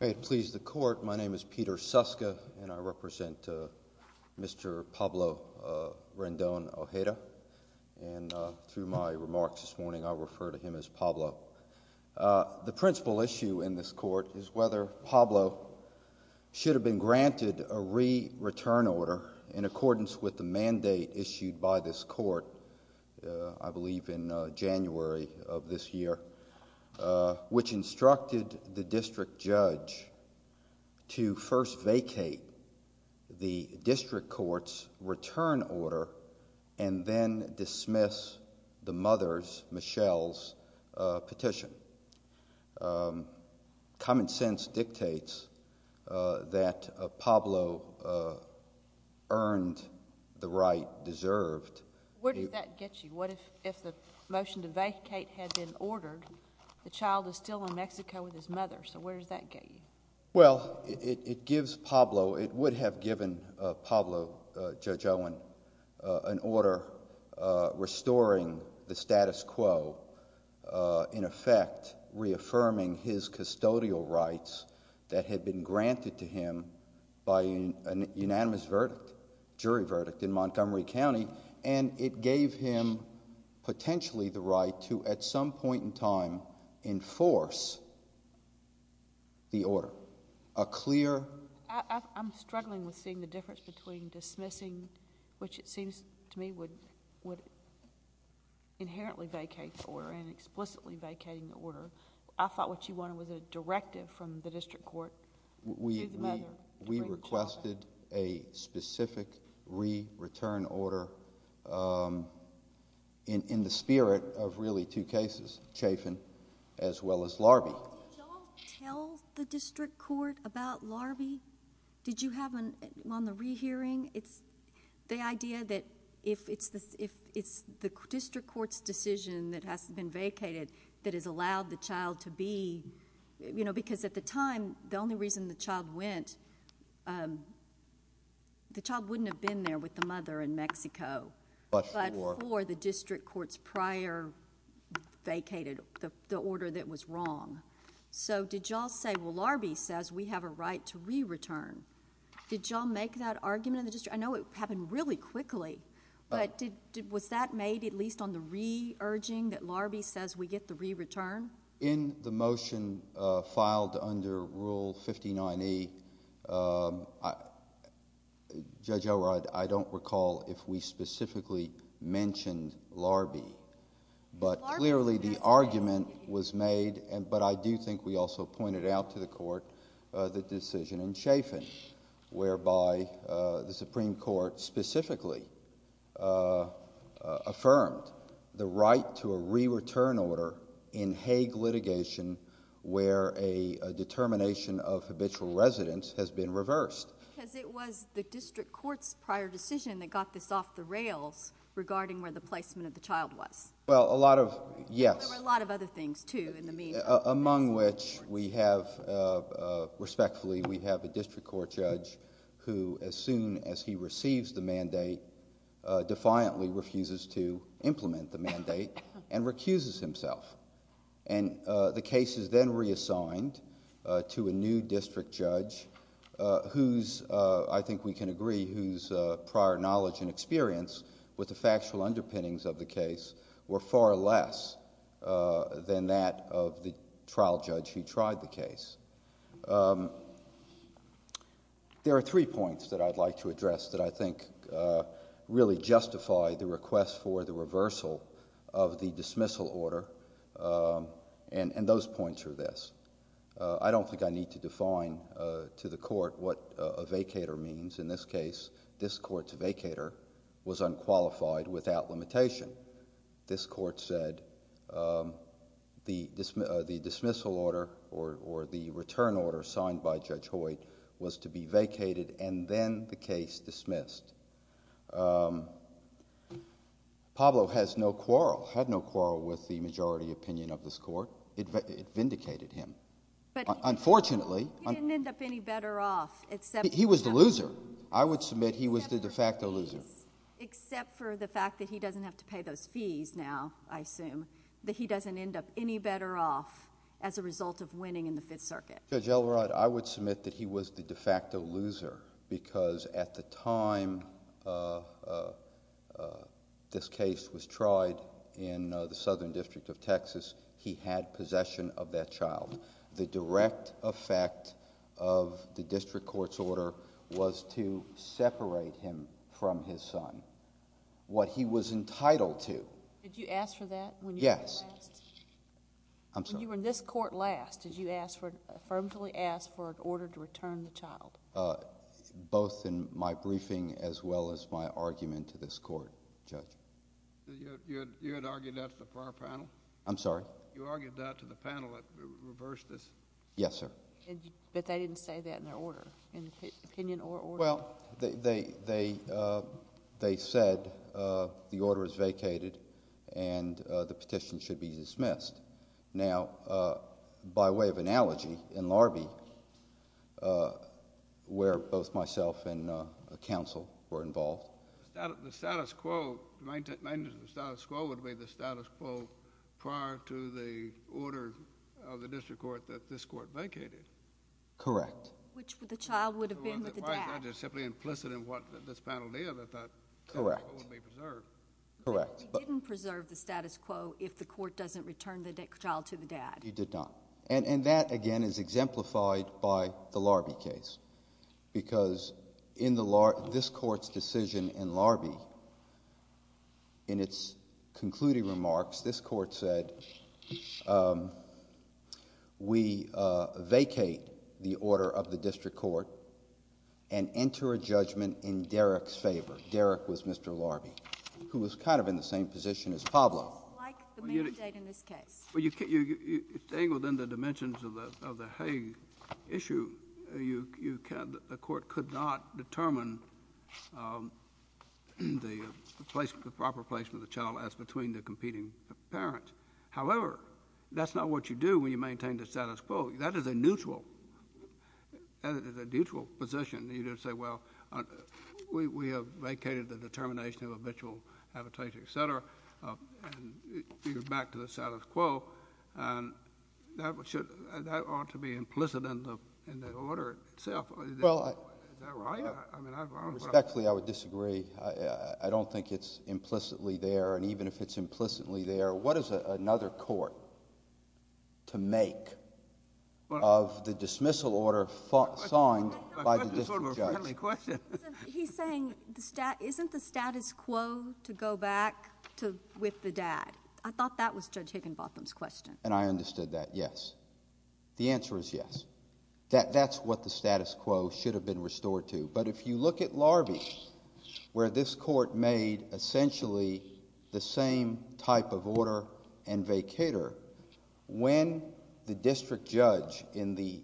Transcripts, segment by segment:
I would please the court, my name is Peter Suska and I represent Mr. Pablo Rendon Ojeda and through my remarks this morning I refer to him as Pablo. The principal issue in this court is whether Pablo should have been granted a re-return order in accordance with the mandate issued by this court, I believe in January of this year, which instructed the district judge to first vacate the district court's return order and then dismiss the mother's, Michelle's, petition. Common sense dictates that Pablo earned the right deserved. Where did that get you? What if the motion to vacate had been ordered, the child is still in Mexico with his mother, so where does that get you? Well, it gives Pablo, it would have given Pablo, Judge Owen, an order restoring the right, reaffirming his custodial rights that had been granted to him by a unanimous verdict, jury verdict in Montgomery County and it gave him potentially the right to at some point in time enforce the order. A clear... I'm struggling with seeing the difference between dismissing, which it seems to me would inherently vacate the order and explicitly vacating the order. I thought what you wanted was a directive from the district court to the mother. We requested a specific re-return order in the spirit of really two cases, Chafin as well as Larbee. Did y'all tell the district court about Larbee? Did you have an... on the re-hearing, it's the idea that if it's the district court's decision that has been vacated, that has allowed the child to be... because at the time, the only reason the child went, the child wouldn't have been there with the mother in Mexico, but for the district court's prior vacated, the order that was wrong. So did y'all say, well, Larbee says we have a right to re-return. Did y'all make that argument in the district? I know it happened really quickly, but was that made at least on the re-urging that Larbee says we get the re-return? In the motion filed under Rule 59E, Judge O'Rourke, I don't recall if we specifically mentioned Larbee, but clearly the argument was made, but I do think we also pointed out to the court the decision in Chafin, whereby the Supreme Court specifically affirmed the right to a re-return order in Hague litigation where a determination of habitual residence has been reversed. Because it was the district court's prior decision that got this off the rails regarding where the placement of the child was. Well, a lot of... yes. There were a lot of other things, too, in the meeting. And among which, respectfully, we have a district court judge who, as soon as he receives the mandate, defiantly refuses to implement the mandate and recuses himself. And the case is then reassigned to a new district judge whose, I think we can agree, whose prior knowledge and experience with the factual underpinnings of the case were far less than that of the trial judge who tried the case. There are three points that I'd like to address that I think really justify the request for the reversal of the dismissal order, and those points are this. I don't think I need to define to the court what a vacator means. In this case, this court's vacator was unqualified without limitation. This court said the dismissal order or the return order signed by Judge Hoyt was to be vacated and then the case dismissed. Pablo has no quarrel, had no quarrel with the majority opinion of this court. It vindicated him. But... Unfortunately... He didn't end up any better off except... He was the loser. I would submit he was the de facto loser. Except for the fact that he doesn't have to pay those fees now, I assume, that he doesn't end up any better off as a result of winning in the Fifth Circuit. Judge Elrod, I would submit that he was the de facto loser because at the time this case was tried in the Southern District of Texas, he had possession of that child. The direct effect of the district court's order was to separate him from his son, what he was entitled to. Did you ask for that when you were last? Yes. I'm sorry. When you were in this court last, did you ask for... affirmatively ask for an order to return the child? Both in my briefing as well as my argument to this court, Judge. You had argued that to the prior panel? I'm sorry? You argued that to the panel that reversed this? Yes, sir. But they didn't say that in their order, in opinion or order? Well, they said the order is vacated and the petition should be dismissed. Now, by way of analogy, in Larbee, where both myself and counsel were involved... The status quo would be the status quo prior to the order of the district court that this court vacated. Correct. Which the child would have been with the dad. Why is that just simply implicit in what this panel did? I thought the status quo would be preserved. Correct. But he didn't preserve the status quo if the court doesn't return the child to the dad. He did not. And that, again, is exemplified by the Larbee case because in this court's decision in Larbee, in its concluding remarks, this court said, we vacate the order of the district court and enter a judgment in Derrick's favor. Derrick was Mr. Larbee, who was kind of in the same position as Pablo. Like the mandate in this case. Well, staying within the dimensions of the Hague issue, the court could not determine the proper placement of the child as between the competing parents. However, that's not what you do when you maintain the status quo. That is a neutral position. You don't say, well, we have vacated the determination of habitual habitation, et cetera, and you're back to the status quo. That ought to be implicit in the order itself. Is that right? Respectfully, I would disagree. I don't think it's implicitly there. And even if it's implicitly there, what is another court to make of the dismissal order signed by the district judge? He's saying, isn't the status quo to go back to with the dad? I thought that was Judge Higginbotham's question. And I understood that, yes. The answer is yes. That's what the status quo should have been restored to. But if you look at Larbee, where this court made essentially the same type of order and vacator, when the district judge in the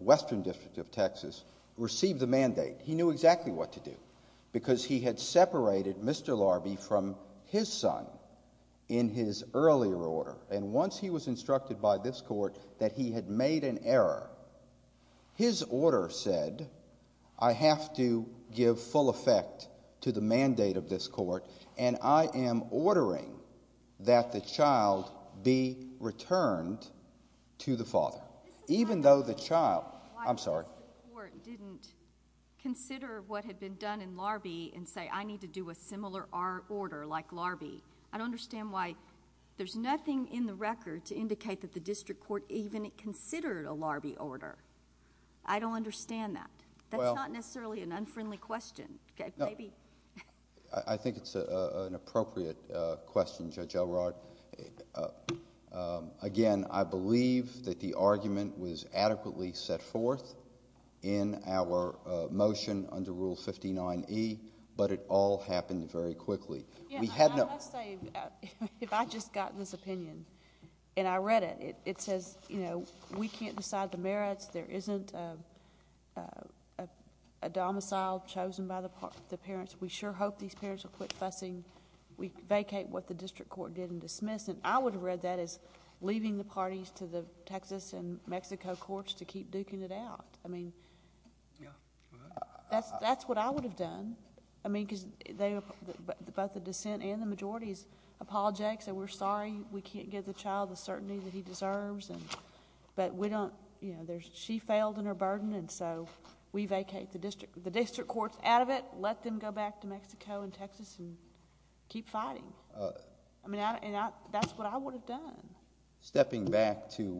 Western District of Texas received the mandate, he knew exactly what to do, because he had separated Mr. Larbee from his son in his earlier order. And once he was instructed by this court that he had made an error, his order said, I have to give full effect to the mandate of this court, and I am ordering that the child be returned to the father. Even though the child — I'm sorry. This is why the district court didn't consider what had been done in Larbee and say, I need to do a similar order like Larbee. I don't understand why there's nothing in the record to indicate that the district court even considered a Larbee order. I don't understand that. That's not necessarily an unfriendly question. Maybe... I think it's an appropriate question, Judge Elrod. Again, I believe that the argument was adequately set forth in our motion under Rule 59E, but it all happened very quickly. We had no... I must say, if I just got this opinion and I read it, it says, you know, we can't decide the merits. There isn't a domicile chosen by the parents. We sure hope these parents will quit fussing. We vacate what the district court didn't dismiss, and I would have read that as leaving the parties to the Texas and Mexico courts to keep duking it out. I mean... Yeah. Go ahead. That's what I would have done. I mean, because both the dissent and the majority has apologized, and we're sorry we can't give the child the certainty that he deserves, but we don't... She failed in her burden, and so we vacate the district courts out of it, let them go back to Mexico and Texas and keep fighting. I mean, that's what I would have done. Stepping back to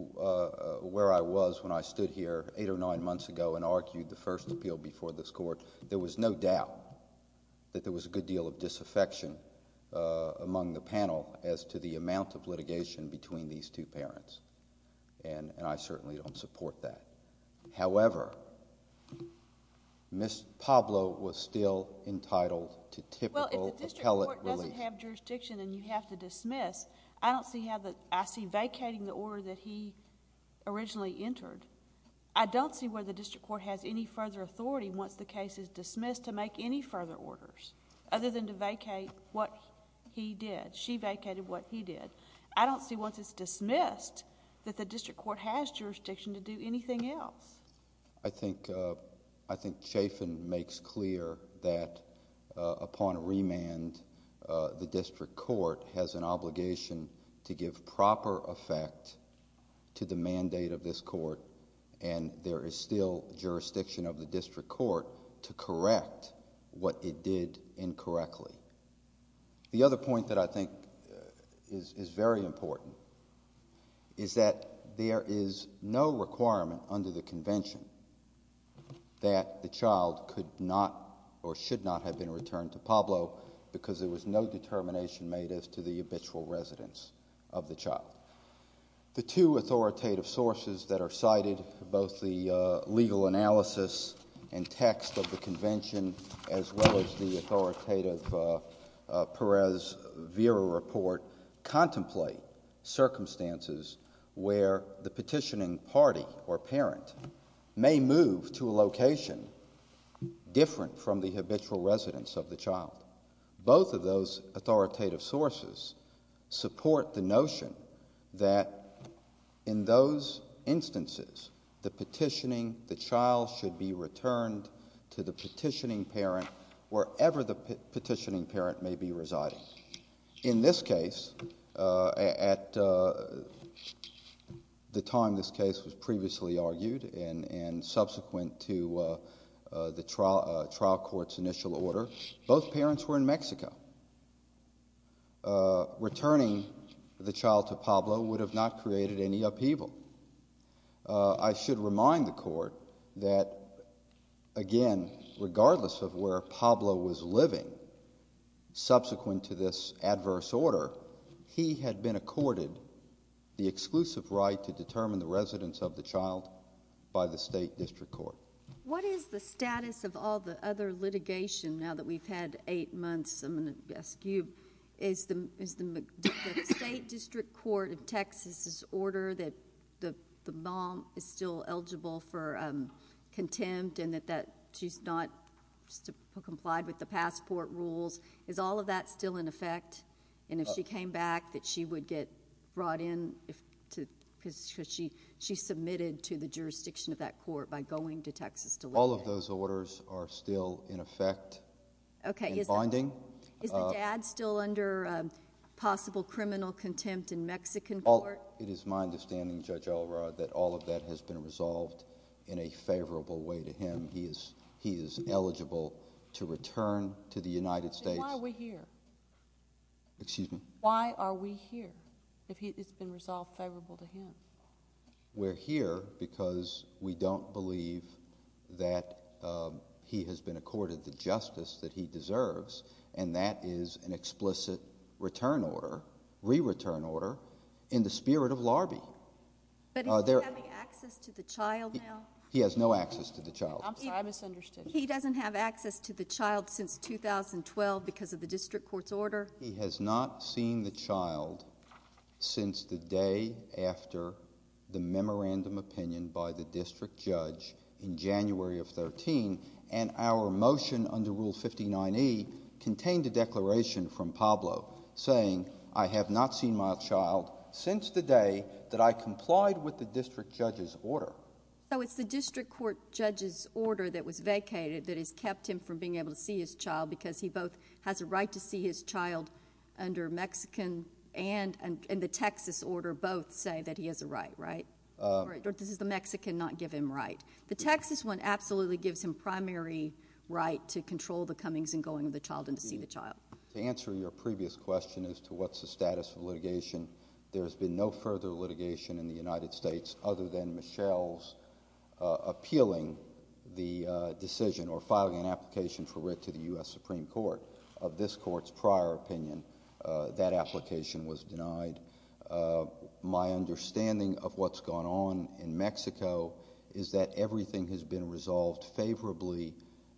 where I was when I stood here eight or nine months ago and argued the first appeal before this court, there was no doubt that there was a good deal of between these two parents, and I certainly don't support that. However, Ms. Pablo was still entitled to typical appellate release. Well, if the district court doesn't have jurisdiction and you have to dismiss, I don't see how... I see vacating the order that he originally entered. I don't see where the district court has any further authority once the case is dismissed to make any further orders, other than to vacate what he did. She vacated what he did. I don't see once it's dismissed that the district court has jurisdiction to do anything else. I think Chafin makes clear that upon remand, the district court has an obligation to give proper effect to the mandate of this court, and there is still jurisdiction of the district court to correct what it did incorrectly. The other point that I think is very important is that there is no requirement under the convention that the child could not or should not have been returned to Pablo because there was no determination made as to the habitual residence of the child. The two authoritative sources that are cited, both the legal analysis and text of the Perez-Vera report, contemplate circumstances where the petitioning party or parent may move to a location different from the habitual residence of the child. Both of those authoritative sources support the notion that in those instances, the petitioning, the child should be returned to the petitioning parent wherever the petitioning parent may be residing. In this case, at the time this case was previously argued and subsequent to the trial court's initial order, both parents were in Mexico. Returning the child to Pablo would have not created any upheaval. I should remind the court that, again, regardless of where Pablo was living subsequent to this adverse order, he had been accorded the exclusive right to determine the residence of the child by the state district court. What is the status of all the other litigation now that we've had eight months? I'm going to ask you, is the state district court of Texas's order that the mom is still eligible for contempt and that she's not complied with the passport rules, is all of that still in effect? And if she came back, that she would get brought in because she submitted to the jurisdiction of that court by going to Texas to live there? All of those orders are still in effect and bonding. Is the dad still under possible criminal contempt in Mexican court? It is my understanding, Judge Alvarado, that all of that has been resolved in a favorable way to him. He is eligible to return to the United States. Why are we here? Excuse me? Why are we here if it's been resolved favorable to him? We're here because we don't believe that he has been accorded the justice that he deserves, and that is an explicit return order, re-return order, in the spirit of Larbee. But is he having access to the child now? He has no access to the child. I'm sorry, I misunderstood. He doesn't have access to the child since 2012 because of the district court's order? He has not seen the child since the day after the memorandum opinion by the district judge in January of 2013, and our motion under Rule 59E contained a declaration from Pablo saying, I have not seen my child since the day that I complied with the district judge's order. So it's the district court judge's order that was vacated that has kept him from being able to see his child because he both has a right to see his child under Mexican and the Texas order both say that he has a right, right? Or does the Mexican not give him right? The Texas one absolutely gives him primary right to control the comings and going of the child and to see the child. To answer your previous question as to what's the status of litigation, there's been no further litigation in the United States other than Michelle's appealing the decision or filing an application for writ to the U.S. Supreme Court. Of this court's prior opinion, that application was denied. My understanding of what's gone on in Mexico is that everything has been resolved favorably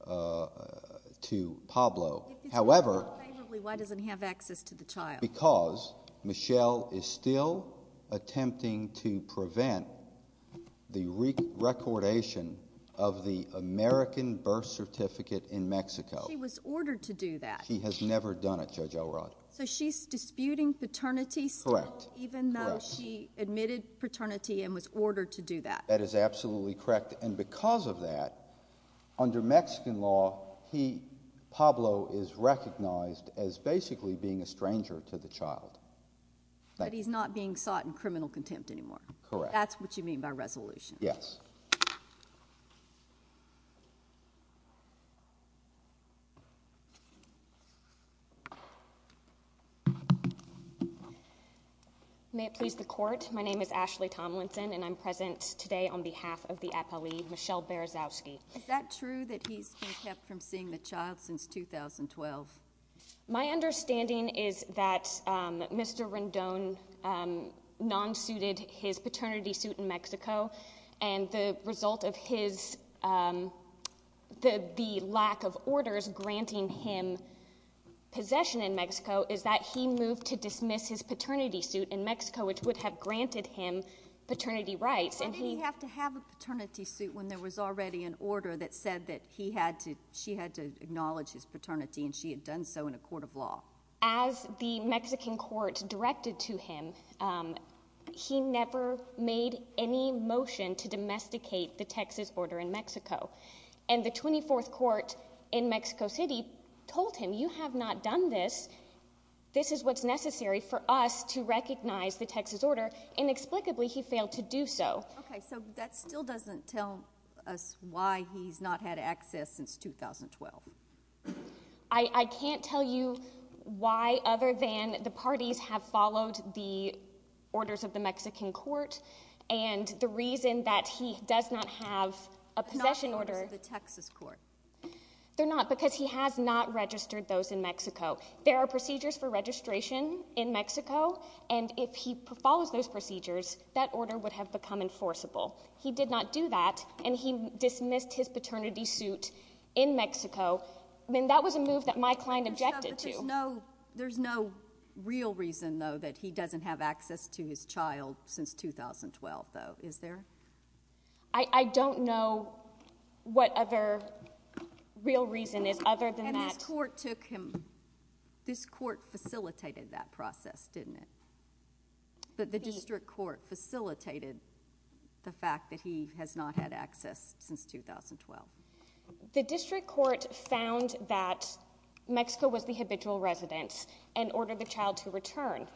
to Pablo. If it's been resolved favorably, why doesn't he have access to the child? Because Michelle is still attempting to prevent the recordation of the American birth certificate in Mexico. She was ordered to do that. She has never done it, Judge Elrod. So she's disputing paternity still even though she admitted paternity and was ordered to do that. That is absolutely correct and because of that, under Mexican law, Pablo is recognized as basically being a stranger to the child. But he's not being sought in criminal contempt anymore. Correct. That's what you mean by resolution? Yes. May it please the court, my name is Ashley Tomlinson and I'm present today on behalf of the appellee, Michelle Berezovsky. Is that true that he's been kept from seeing the child since 2012? My understanding is that Mr. Rendon non-suited his paternity suit in Mexico and the result of his, the lack of orders granting him possession in Mexico is that he moved to dismiss his paternity suit in Mexico, which would have granted him paternity rights. But didn't he have to have a paternity suit when there was already an order that said that he had to, she had to acknowledge his paternity and she had done so in a court of law? As the Mexican court directed to him, he never made any motion to domesticate the Texas order in Mexico. And the 24th court in Mexico City told him, you have not done this, this is what's necessary for us to recognize the Texas order. Inexplicably, he failed to do so. Okay, so that still doesn't tell us why he's not had access since 2012. I can't tell you why other than the parties have followed the orders of the Mexican court and the reason that he does not have a possession order... They're not orders of the Texas court. They're not, because he has not registered those in Mexico. There are procedures for registration in Mexico and if he follows those procedures, that order would have become enforceable. He did not do that and he dismissed his paternity suit in Mexico. That was a move that my client objected to. There's no real reason, though, that he doesn't have access to his child since 2012, though. Is there? I don't know what other real reason is other than that. And this court took him... This court facilitated that process, didn't it? The district court facilitated the fact that he has not had access since 2012. The district court found that Mexico was the habitual residence and ordered the child to return.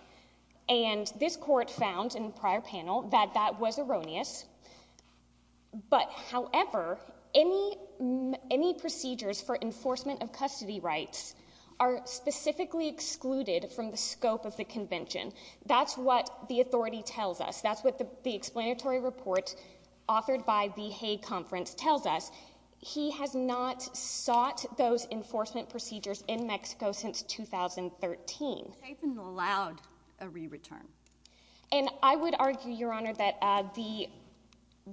And this court found in the prior panel that that was erroneous, but however, any procedures for enforcement of custody rights are specifically excluded from the scope of the convention. That's what the authority tells us. That's what the explanatory report authored by the Hague Conference tells us. He has not sought those enforcement procedures in Mexico since 2013. Chafin allowed a re-return. And I would argue, Your Honor, that Mr.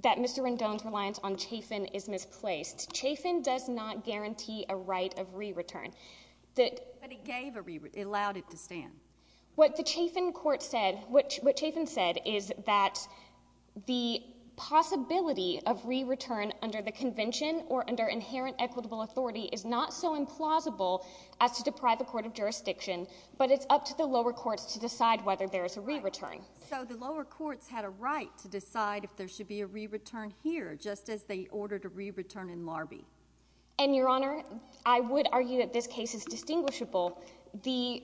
Rendon's reliance on Chafin is misplaced. Chafin does not guarantee a right of re-return. But he gave a re-return, allowed it to stand. What the Chafin court said, what Chafin said is that the possibility of re-return under the convention or under inherent equitable authority is not so implausible as to deprive the court of jurisdiction, but it's up to the lower courts to decide whether there is a re-return. So the lower courts had a right to decide if there should be a re-return here, just as they ordered a re-return in Larbee. And, Your Honor, I would argue that this case is distinguishable. The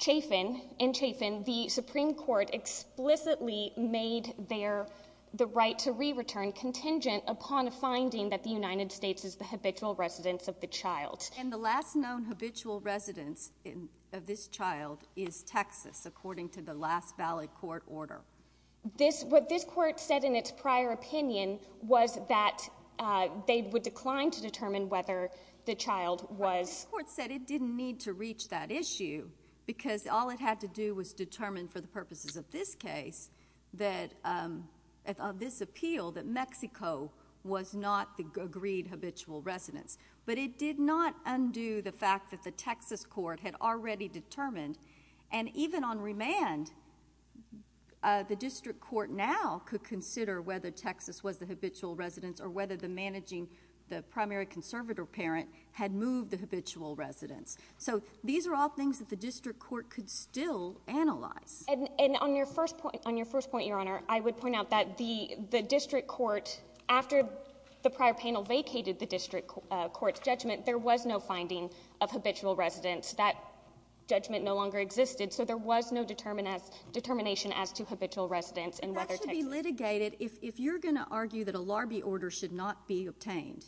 Chafin, in Chafin, the Supreme Court explicitly made their... the right to re-return contingent upon a finding that the United States is the habitual residence of the child. And the last known habitual residence of this child is Texas, according to the last valid court order. This... what this court said in its prior opinion was that, uh, they would decline to determine whether the child was... The court said it didn't need to reach that issue because all it had to do was determine, for the purposes of this case, that, um, of this appeal, that Mexico was not the agreed habitual residence. But it did not undo the fact that the Texas court had already determined, and even on remand, uh, the district court now could consider whether Texas was the habitual residence or whether the managing... the primary conservator parent had moved the habitual residence. So these are all things that the district court could still analyze. And... and on your first point... on your first point, Your Honor, I would point out that the... the district court, after the prior panel vacated the district court's judgment, there was no finding of habitual residence. That judgment no longer existed, so there was no determination as to habitual residence and whether Texas... And that should be litigated... If... if you're gonna argue that a Larbee order should not be obtained,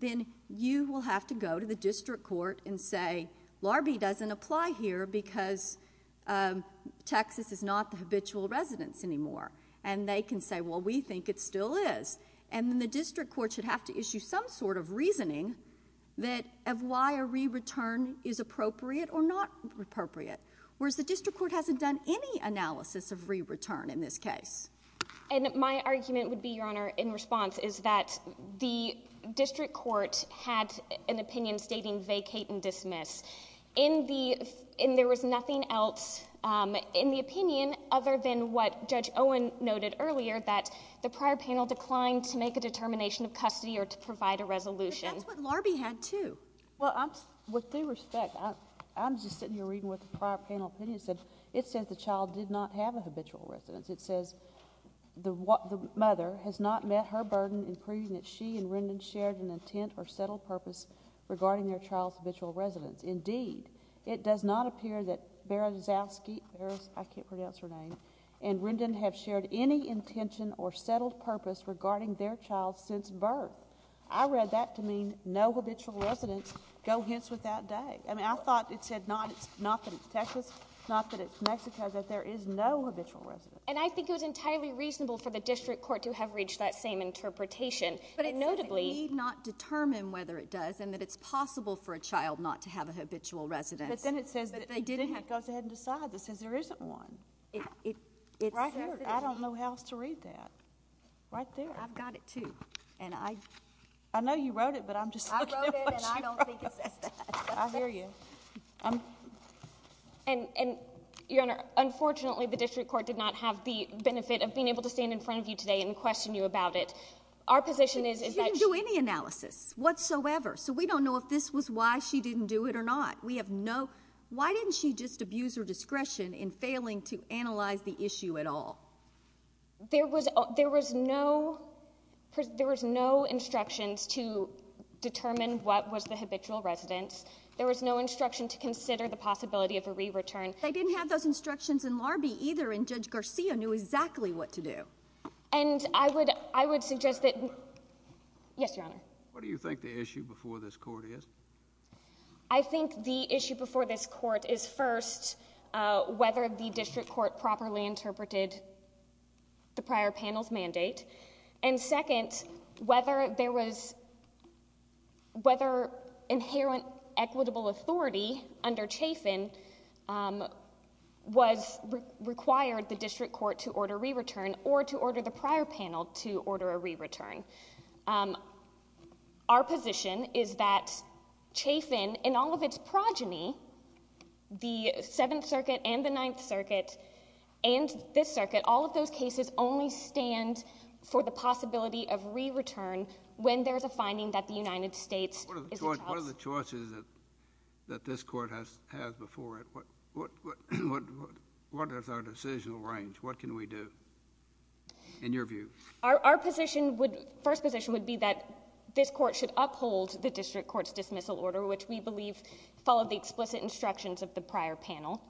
then you will have to go to the district court and say, Larbee doesn't apply here because, um, Texas is not the habitual residence anymore. And they can say, well, we think it still is. And then the district court should have to issue some sort of reasoning that... of why a re-return is appropriate or not appropriate. Whereas the district court hasn't done any analysis of re-return in this case. And my argument would be, Your Honor, in response, is that the district court had an opinion stating vacate and dismiss. In the... and there was nothing else in the opinion other than what Judge Owen noted earlier, that the prior panel declined to make a determination of custody or to provide a resolution. But that's what Larbee had, too. With due respect, I'm just sitting here reading what the prior panel opinion said. It says the child did not have a habitual residence. It says the mother has not met her burden in proving that she and Rendon shared an intent or settled purpose regarding their child's habitual residence. Indeed, it does not appear that Berezowski... I can't pronounce her name. And Rendon have shared any intention or settled purpose regarding their child's since birth. I read that to mean no habitual residence, go hence with that day. I mean, I thought it said not that it's Texas, not that it's Mexico, that there is no habitual residence. And I think it was entirely reasonable for the district court to have reached that same interpretation. But it notably... It said they need not determine whether it does and that it's possible for a child not to have a habitual residence. But then it says that they didn't have... It goes ahead and decides. It says there isn't one. Right here. I don't know how else to read that. Right there. I've got it, too. I know you wrote it, but I'm just looking at what you wrote. I wrote it, and I don't think it says that. I hear you. And, Your Honor, unfortunately, the district court did not have the benefit of being able to stand in front of you today and question you about it. Our position is... She didn't do any analysis whatsoever. So we don't know if this was why she didn't do it or not. Why didn't she just abuse her to analyze the issue at all? There was no... There was no instructions to determine what was the habitual residence. There was no instruction to consider the possibility of a re-return. They didn't have those instructions in Larbee, either, and Judge Garcia knew exactly what to do. And I would suggest that... Yes, Your Honor. What do you think the issue before this court is? I think the issue before this court is, first, whether the district court properly interpreted the prior panel's mandate, and, second, whether there was... whether inherent equitable authority under Chafin was required the district court to order a re-return or to order the prior panel to order a re-return. Our position is that Chafin, in all of its progeny, the 7th Circuit and the 9th Circuit and this circuit, all of those cases only stand for the possibility of re-return when there's a finding that the United States is a... What are the choices that this court has before it? What is our decisional range? What can we do, in your view? Our position would... First position would be that this court should uphold the district court's dismissal order, which we believe followed the explicit instructions of the prior panel.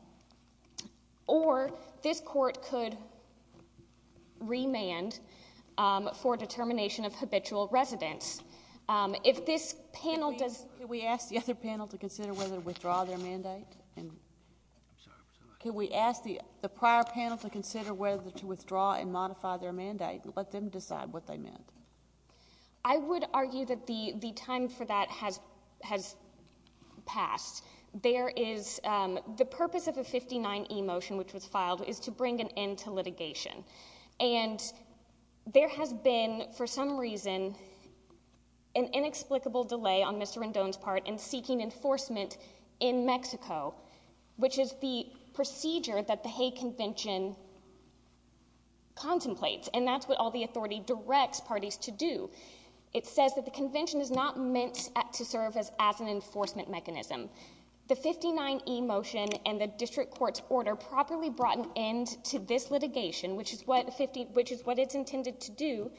Or, this court could remand for determination of habitual residence. If this panel does... Can we ask the other panel to consider whether to withdraw their mandate? Can we ask the prior panel to consider whether to withdraw and modify their mandate and let them decide what they meant? I would argue that the past. There is... The purpose of the 59E motion, which was filed, is to bring an end to litigation. And, there has been for some reason an inexplicable delay on Mr. Rendon's part in seeking enforcement in Mexico, which is the procedure that the Hague Convention contemplates. And that's what all the authority directs parties to do. It says that the convention is not meant to serve as an enforcement mechanism. The 59E motion and the district court's order properly brought an end to this litigation, which is what it's intended to do,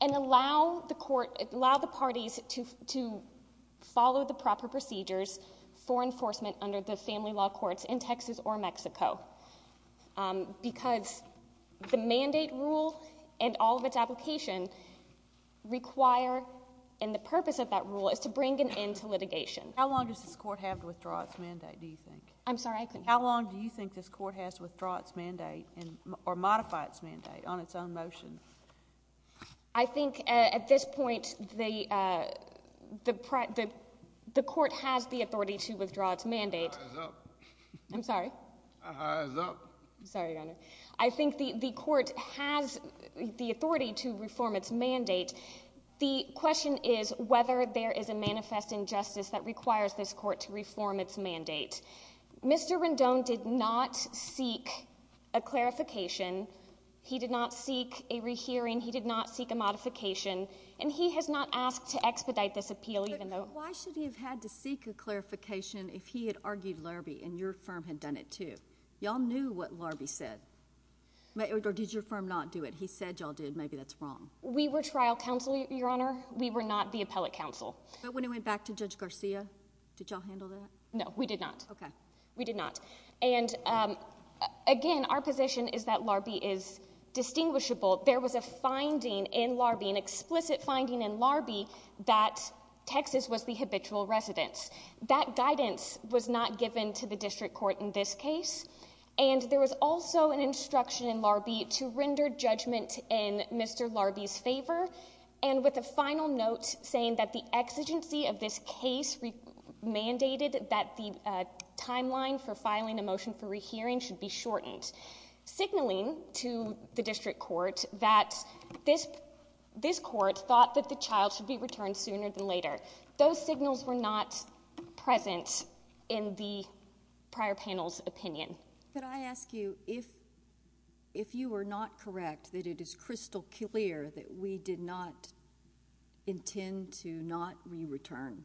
and allow the court allow the parties to follow the proper procedures for enforcement under the family law courts in Texas or Mexico. Because the mandate rule and all of its application require and the purpose of that rule is to bring an end to litigation. How long does this court have to withdraw its mandate, do you think? How long do you think this court has to withdraw its mandate or modify its mandate on its own motion? I think at this point, the court has the authority to withdraw its mandate. I'm sorry? I'm sorry, Your Honor. I think the court has the authority to reform its mandate. The question is whether there is a manifest injustice that requires this court to reform its mandate. Mr. Rendon did not seek a clarification. He did not seek a rehearing. He did not seek a modification. And he has not asked to expedite this appeal even though... But why should he have had to seek a clarification if he had argued Larbee and your firm had done it too? Y'all knew what Larbee said. Or did your firm not do it? He said y'all did. Maybe that's wrong. We were trial counsel, Your Honor. We were not the appellate counsel. But when it went back to Judge Garcia, did y'all handle that? No, we did not. We did not. Again, our position is that Larbee is distinguishable. There was a finding in Larbee, an explicit finding in Larbee that Texas was the habitual residence. That guidance was not given to the district court in this case. And there was also an instruction in Larbee to render judgment in Mr. Larbee's favor and with a final note saying that the exigency of this case mandated that the timeline for filing a motion for rehearing should be shortened. Signaling to the district court that this court thought that the child should be returned sooner than later. Those signals were not present in the case. Could I ask you if you were not correct that it is crystal clear that we did not intend to not re-return,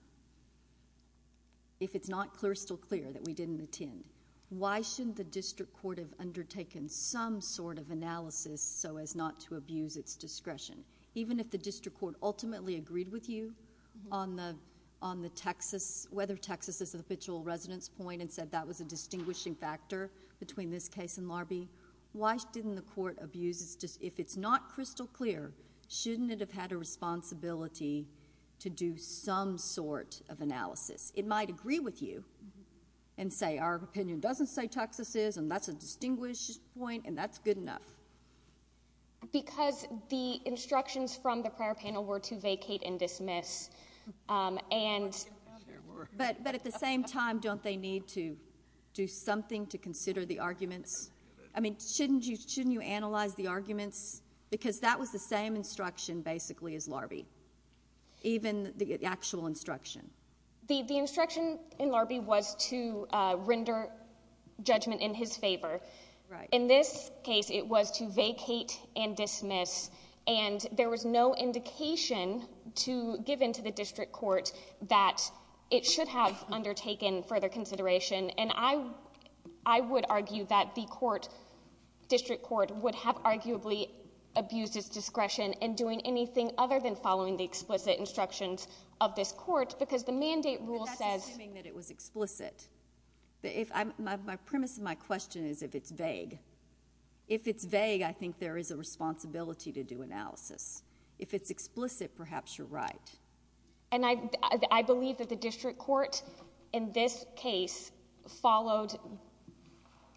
if it's not crystal clear that we didn't intend, why shouldn't the district court have undertaken some sort of analysis so as not to abuse its discretion? Even if the district court ultimately agreed with you on the Texas, whether Texas is a habitual residence point and said that was a distinguishing factor between this case and Larbee, why didn't the court abuse if it's not crystal clear, shouldn't it have had a responsibility to do some sort of analysis? It might agree with you and say our opinion doesn't say Texas is and that's a distinguished point and that's good enough. Because the instructions from the prior panel were to vacate and dismiss. But at the same time don't they need to do something to consider the arguments? Shouldn't you analyze the arguments because that was the same instruction basically as Larbee. Even the actual instruction. The instruction in Larbee was to render judgment in his favor. In this case it was to vacate and dismiss and there was no indication given to the district court that it should have undertaken further consideration and I would argue that the court district court would have arguably abused its discretion in doing anything other than following the explicit instructions of this court because the mandate rule says It was explicit. My premise of my question is if it's vague. If it's vague I think there is a responsibility to do analysis. If it's explicit perhaps you're right. I believe that the district court in this case followed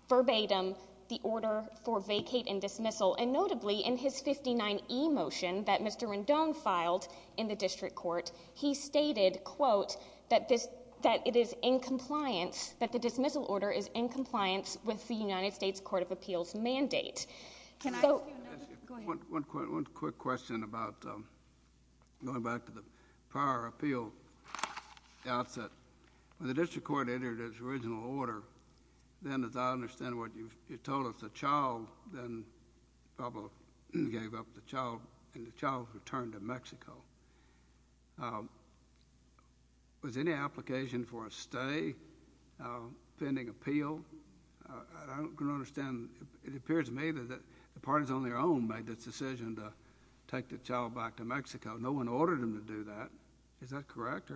verbatim the order for vacate and dismissal and notably in his 59E motion that Mr. Rendon filed in the district court he stated quote that it is in compliance that the dismissal order is in compliance with the United States Court of Appeals mandate. One quick question about going back to the prior appeal outset when the district court entered its original order then as I understand what you told us the child then probably gave up the child and the child returned to Mexico was any application for a stay pending appeal I don't understand it appears to me that the parties on their own made this decision to take the child back to Mexico no one ordered him to do that is that correct?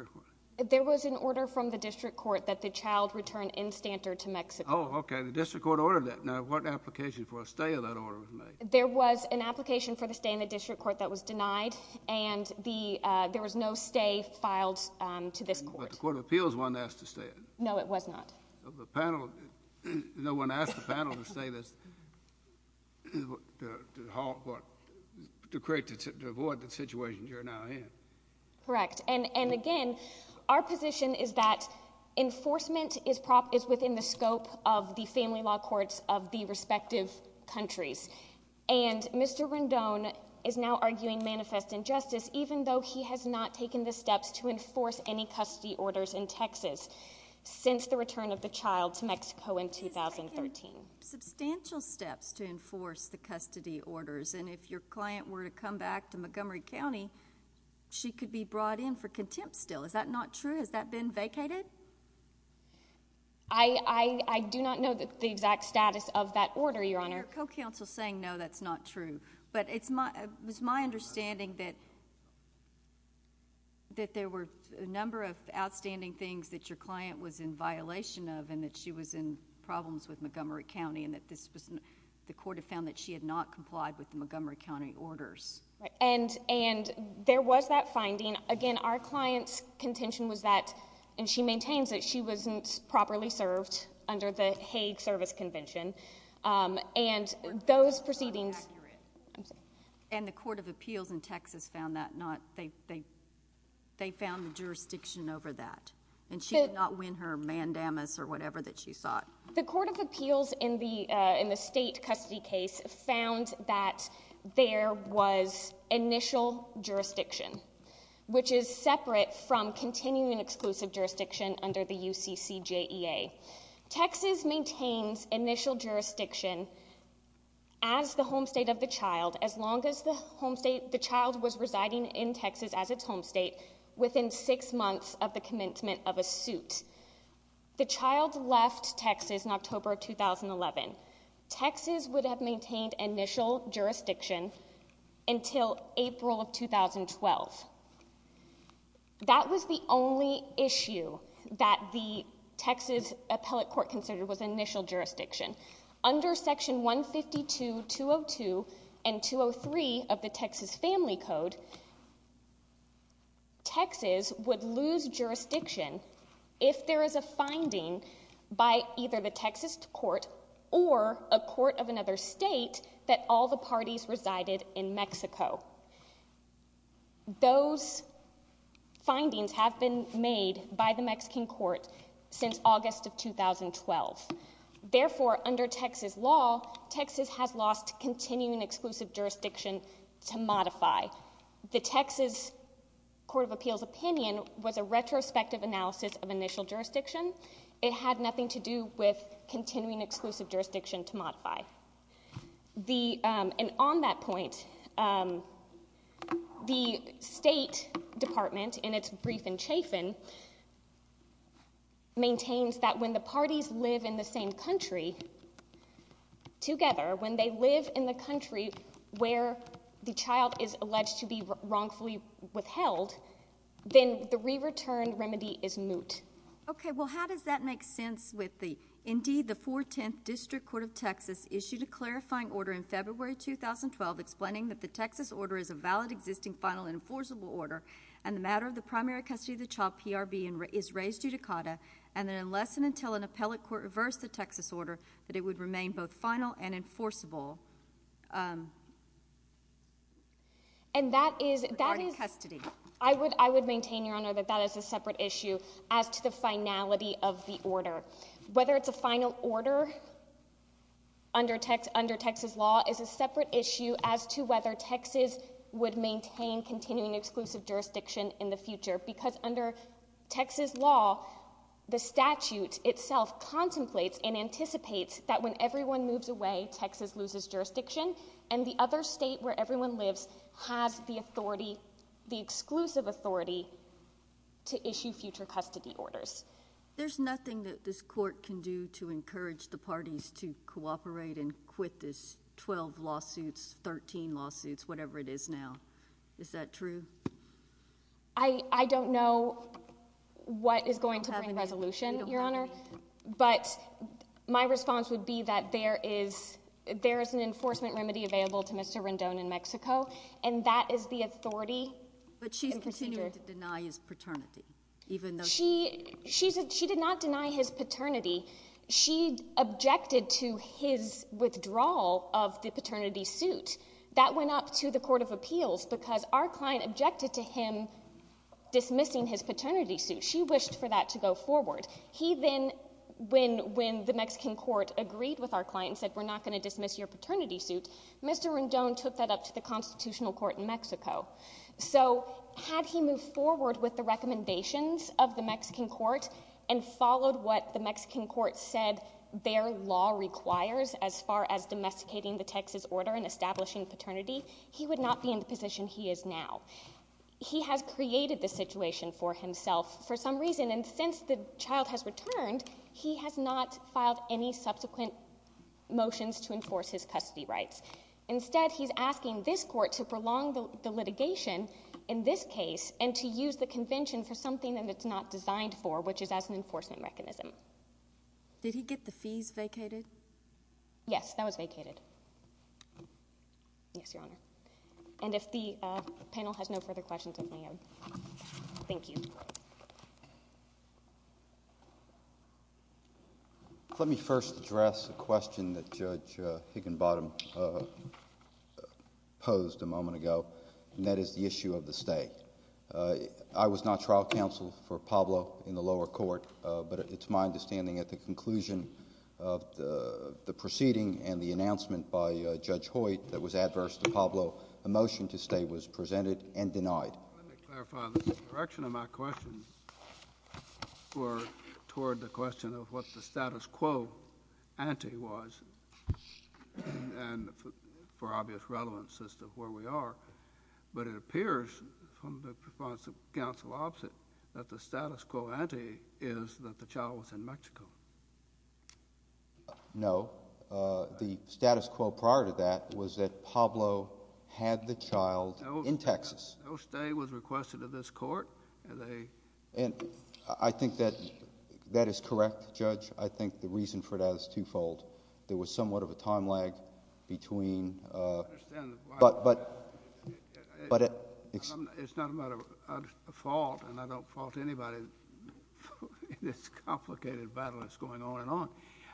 There was an order from the district court that the child returned in standard to Mexico. Oh okay the district court ordered that now what application for a stay of that order was made? There was an application for the stay in the district court that was denied and the there was no stay filed to this court. But the court of appeals wasn't asked to stay? No it was not. No one asked the panel to stay to avoid the situation you're now in. Correct and again our position is that enforcement is within the scope of the family law courts of the respective countries and Mr. Rendon is now arguing manifest injustice even though he has not taken the steps to enforce any since the return of the child to Mexico in 2013. He has taken substantial steps to enforce the custody orders and if your client were to come back to Montgomery County she could be brought in for contempt still is that not true? Has that been vacated? I do not know the exact status of that order your honor your co-counsel saying no that's not true but it's my understanding that that there were a number of outstanding things that your client was in violation of and that she was in problems with Montgomery County and that this was the court had found that she had not complied with the Montgomery County orders and there was that finding again our client's contention was that and she maintains that she wasn't properly served under the Hague service convention and those proceedings and the court of appeals in Texas found that not they found the jurisdiction over that and she did not win her mandamus or whatever that she sought. The court of appeals in the state custody case found that there was initial jurisdiction which is separate from continuing exclusive jurisdiction under the UCCJEA. Texas maintains initial jurisdiction as the home state of the child as long as the home state the child was residing in Texas as its home state within six months of the commencement of a suit. The child left Texas in October of 2011. Texas would have maintained initial jurisdiction until April of 2012. That was the only issue that the Texas appellate court considered was initial jurisdiction. Under section 152 202 and 203 of the Texas family code Texas would lose jurisdiction if there is a finding by either the Texas court or a court of another state that all the parties resided in Mexico. Those findings have been made by the Mexican court since August of 2012. Therefore under Texas law Texas has lost continuing exclusive jurisdiction to modify. The Texas court of appeals opinion was a retrospective analysis of initial jurisdiction. It had nothing to do with continuing exclusive jurisdiction to modify. On that point the state department in its brief and chafin maintains that when the parties live in the same country together, when they live in the country where the child is alleged to be wrongfully withheld, then the re-return remedy is moot. Okay, well how does that make sense with the indeed the 410th district court of Texas issued a clarifying order in February 2012 explaining that the Texas order is a valid existing final enforceable order and the matter of the primary custody of the child PRB is raised judicata and that unless and until an appellate court reversed the Texas order that it would remain both final and enforceable. And that is I would maintain your honor that that is a separate issue as to the finality of the order. Whether it's a final order under Texas law is a separate issue as to whether Texas would maintain continuing exclusive jurisdiction in the future because under Texas law, the statute itself contemplates and anticipates that when everyone moves away Texas loses jurisdiction and the other state where everyone lives has the authority, the exclusive authority to issue future custody orders. There's nothing that this court can do to encourage the parties to cooperate and quit this 12 lawsuits, 13 lawsuits whatever it is now. Is that true? I don't know what is going to bring resolution your honor but my response would be that there is an enforcement remedy available to Mr. Rendon in Mexico and that is the authority. But she's continuing to deny his paternity even though she did not deny his paternity. She objected to his withdrawal of the paternity suit. That went up to the Mexican court. She objected to him dismissing his paternity suit. She wished for that to go forward. He then when the Mexican court agreed with our client and said we're not going to dismiss your paternity suit Mr. Rendon took that up to the constitutional court in Mexico. So had he moved forward with the recommendations of the Mexican court and followed what the Mexican court said their law requires as far as domesticating the Texas order and establishing paternity he would not be in the position he is now. He has created the situation for himself for some reason and since the child has returned he has not filed any subsequent motions to enforce his custody rights. Instead he's asking this court to prolong the litigation in this case and to use the convention for something that it's not designed for which is as an enforcement mechanism. Did he get the fees vacated? Yes that was vacated. Yes your honor. And if the panel has no further questions thank you. Let me first address a question that Judge Higginbottom posed a moment ago and that is the issue of the stay. I was not trial counsel for Pablo in the lower court but it's my understanding at the proceeding and the announcement by Judge Hoyt that was adverse to Pablo the motion to stay was presented and denied. Let me clarify the direction of my question were toward the question of what the status quo ante was and for obvious relevance as to where we are from the response of counsel opposite that the status quo ante is that the child was in Mexico. No. The status quo prior to that was that Pablo had the child in Texas. No stay was requested to this court. I think that that is correct Judge. I think the reason for that is twofold. There was somewhat of a time lag between but but it's not a matter of fault and I don't fault anybody in this complicated battle that's going on and on.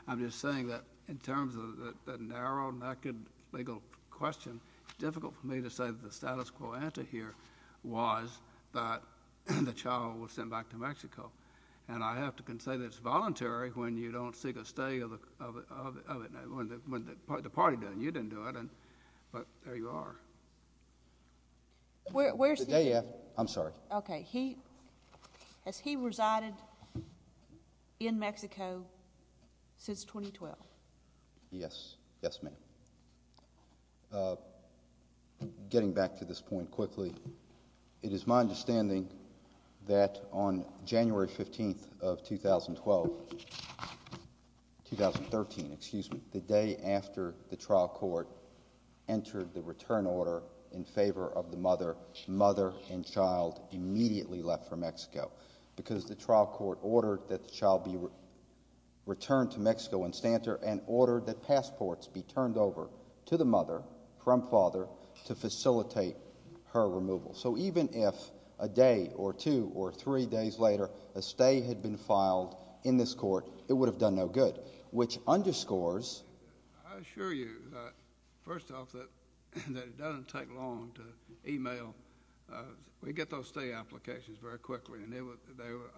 I'm just saying that in terms of the narrow naked legal question it's difficult for me to say that the status quo ante here was that the child was sent back to Mexico and I have to say that it's voluntary when you don't seek a stay of the party doing it. You didn't do it but there you are. I'm sorry. Has he resided in Mexico since 2012? Yes. Yes ma'am. Getting back to this point quickly, it is my understanding that on January 15th of 2012 2013 excuse me, the day after the trial court entered the return order in favor of the mother, mother and child immediately left for the trial court ordered that the child be returned to Mexico in Stanter and ordered that passports be turned over to the mother from father to facilitate her removal. So even if a day or two or three days later a stay had been filed in this court, it would have done no good which underscores I assure you that first off that it doesn't take long to email we get those stay applications very quickly and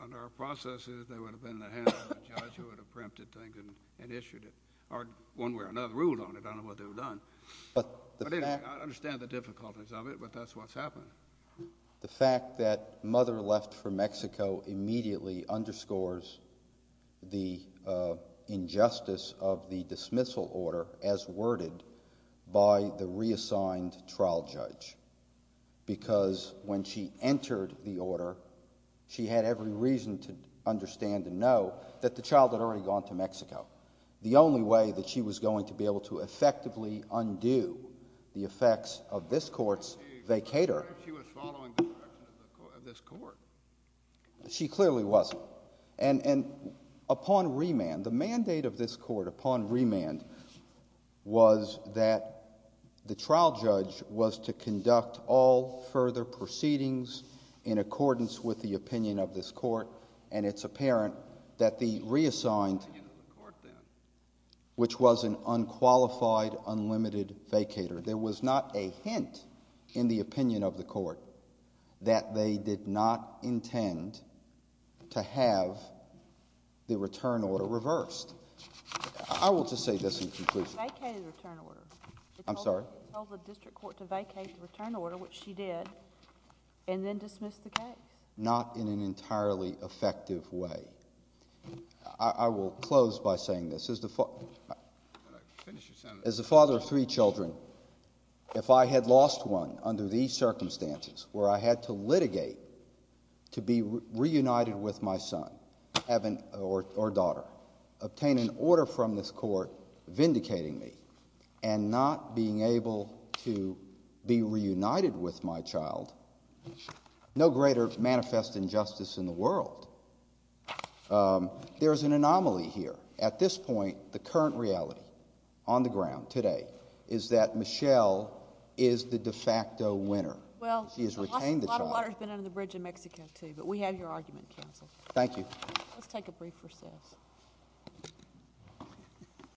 under our processes they would have been in the hands of a judge who would have preempted things and issued it or one way or another ruled on it I don't know what they would have done. I understand the difficulties of it but that's what's happened. The fact that mother left for Mexico immediately underscores the injustice of the dismissal order as worded by the reassigned trial judge because when she entered the order she had every reason to understand and know that the child had already gone to Mexico. The only way that she was going to be able to effectively undo the effects of this court's vacator she clearly wasn't and upon remand the mandate of this court upon remand was that the trial judge was to conduct all further proceedings in accordance with the opinion of this court and it's apparent that the reassigned which was an unqualified unlimited vacator there was not a hint in the opinion of the court that they did not intend to have the return order reversed. I will just say this in conclusion. It vacated the return order. It told the district court to vacate the return order which she did and then dismiss the case. Not in an entirely effective way. I will close by saying this. As the father of three children if I had lost one under these circumstances where I had to litigate to be reunited with my son or daughter obtain an order from this court vindicating me and not being able to be reunited with my child no greater manifest injustice in the world. There is an anomaly here. At this point the current reality on the ground today is that Michelle is the de facto winner. She has retained the child. A lot of water has been under the bridge in Mexico too but we have your argument counsel. Thank you.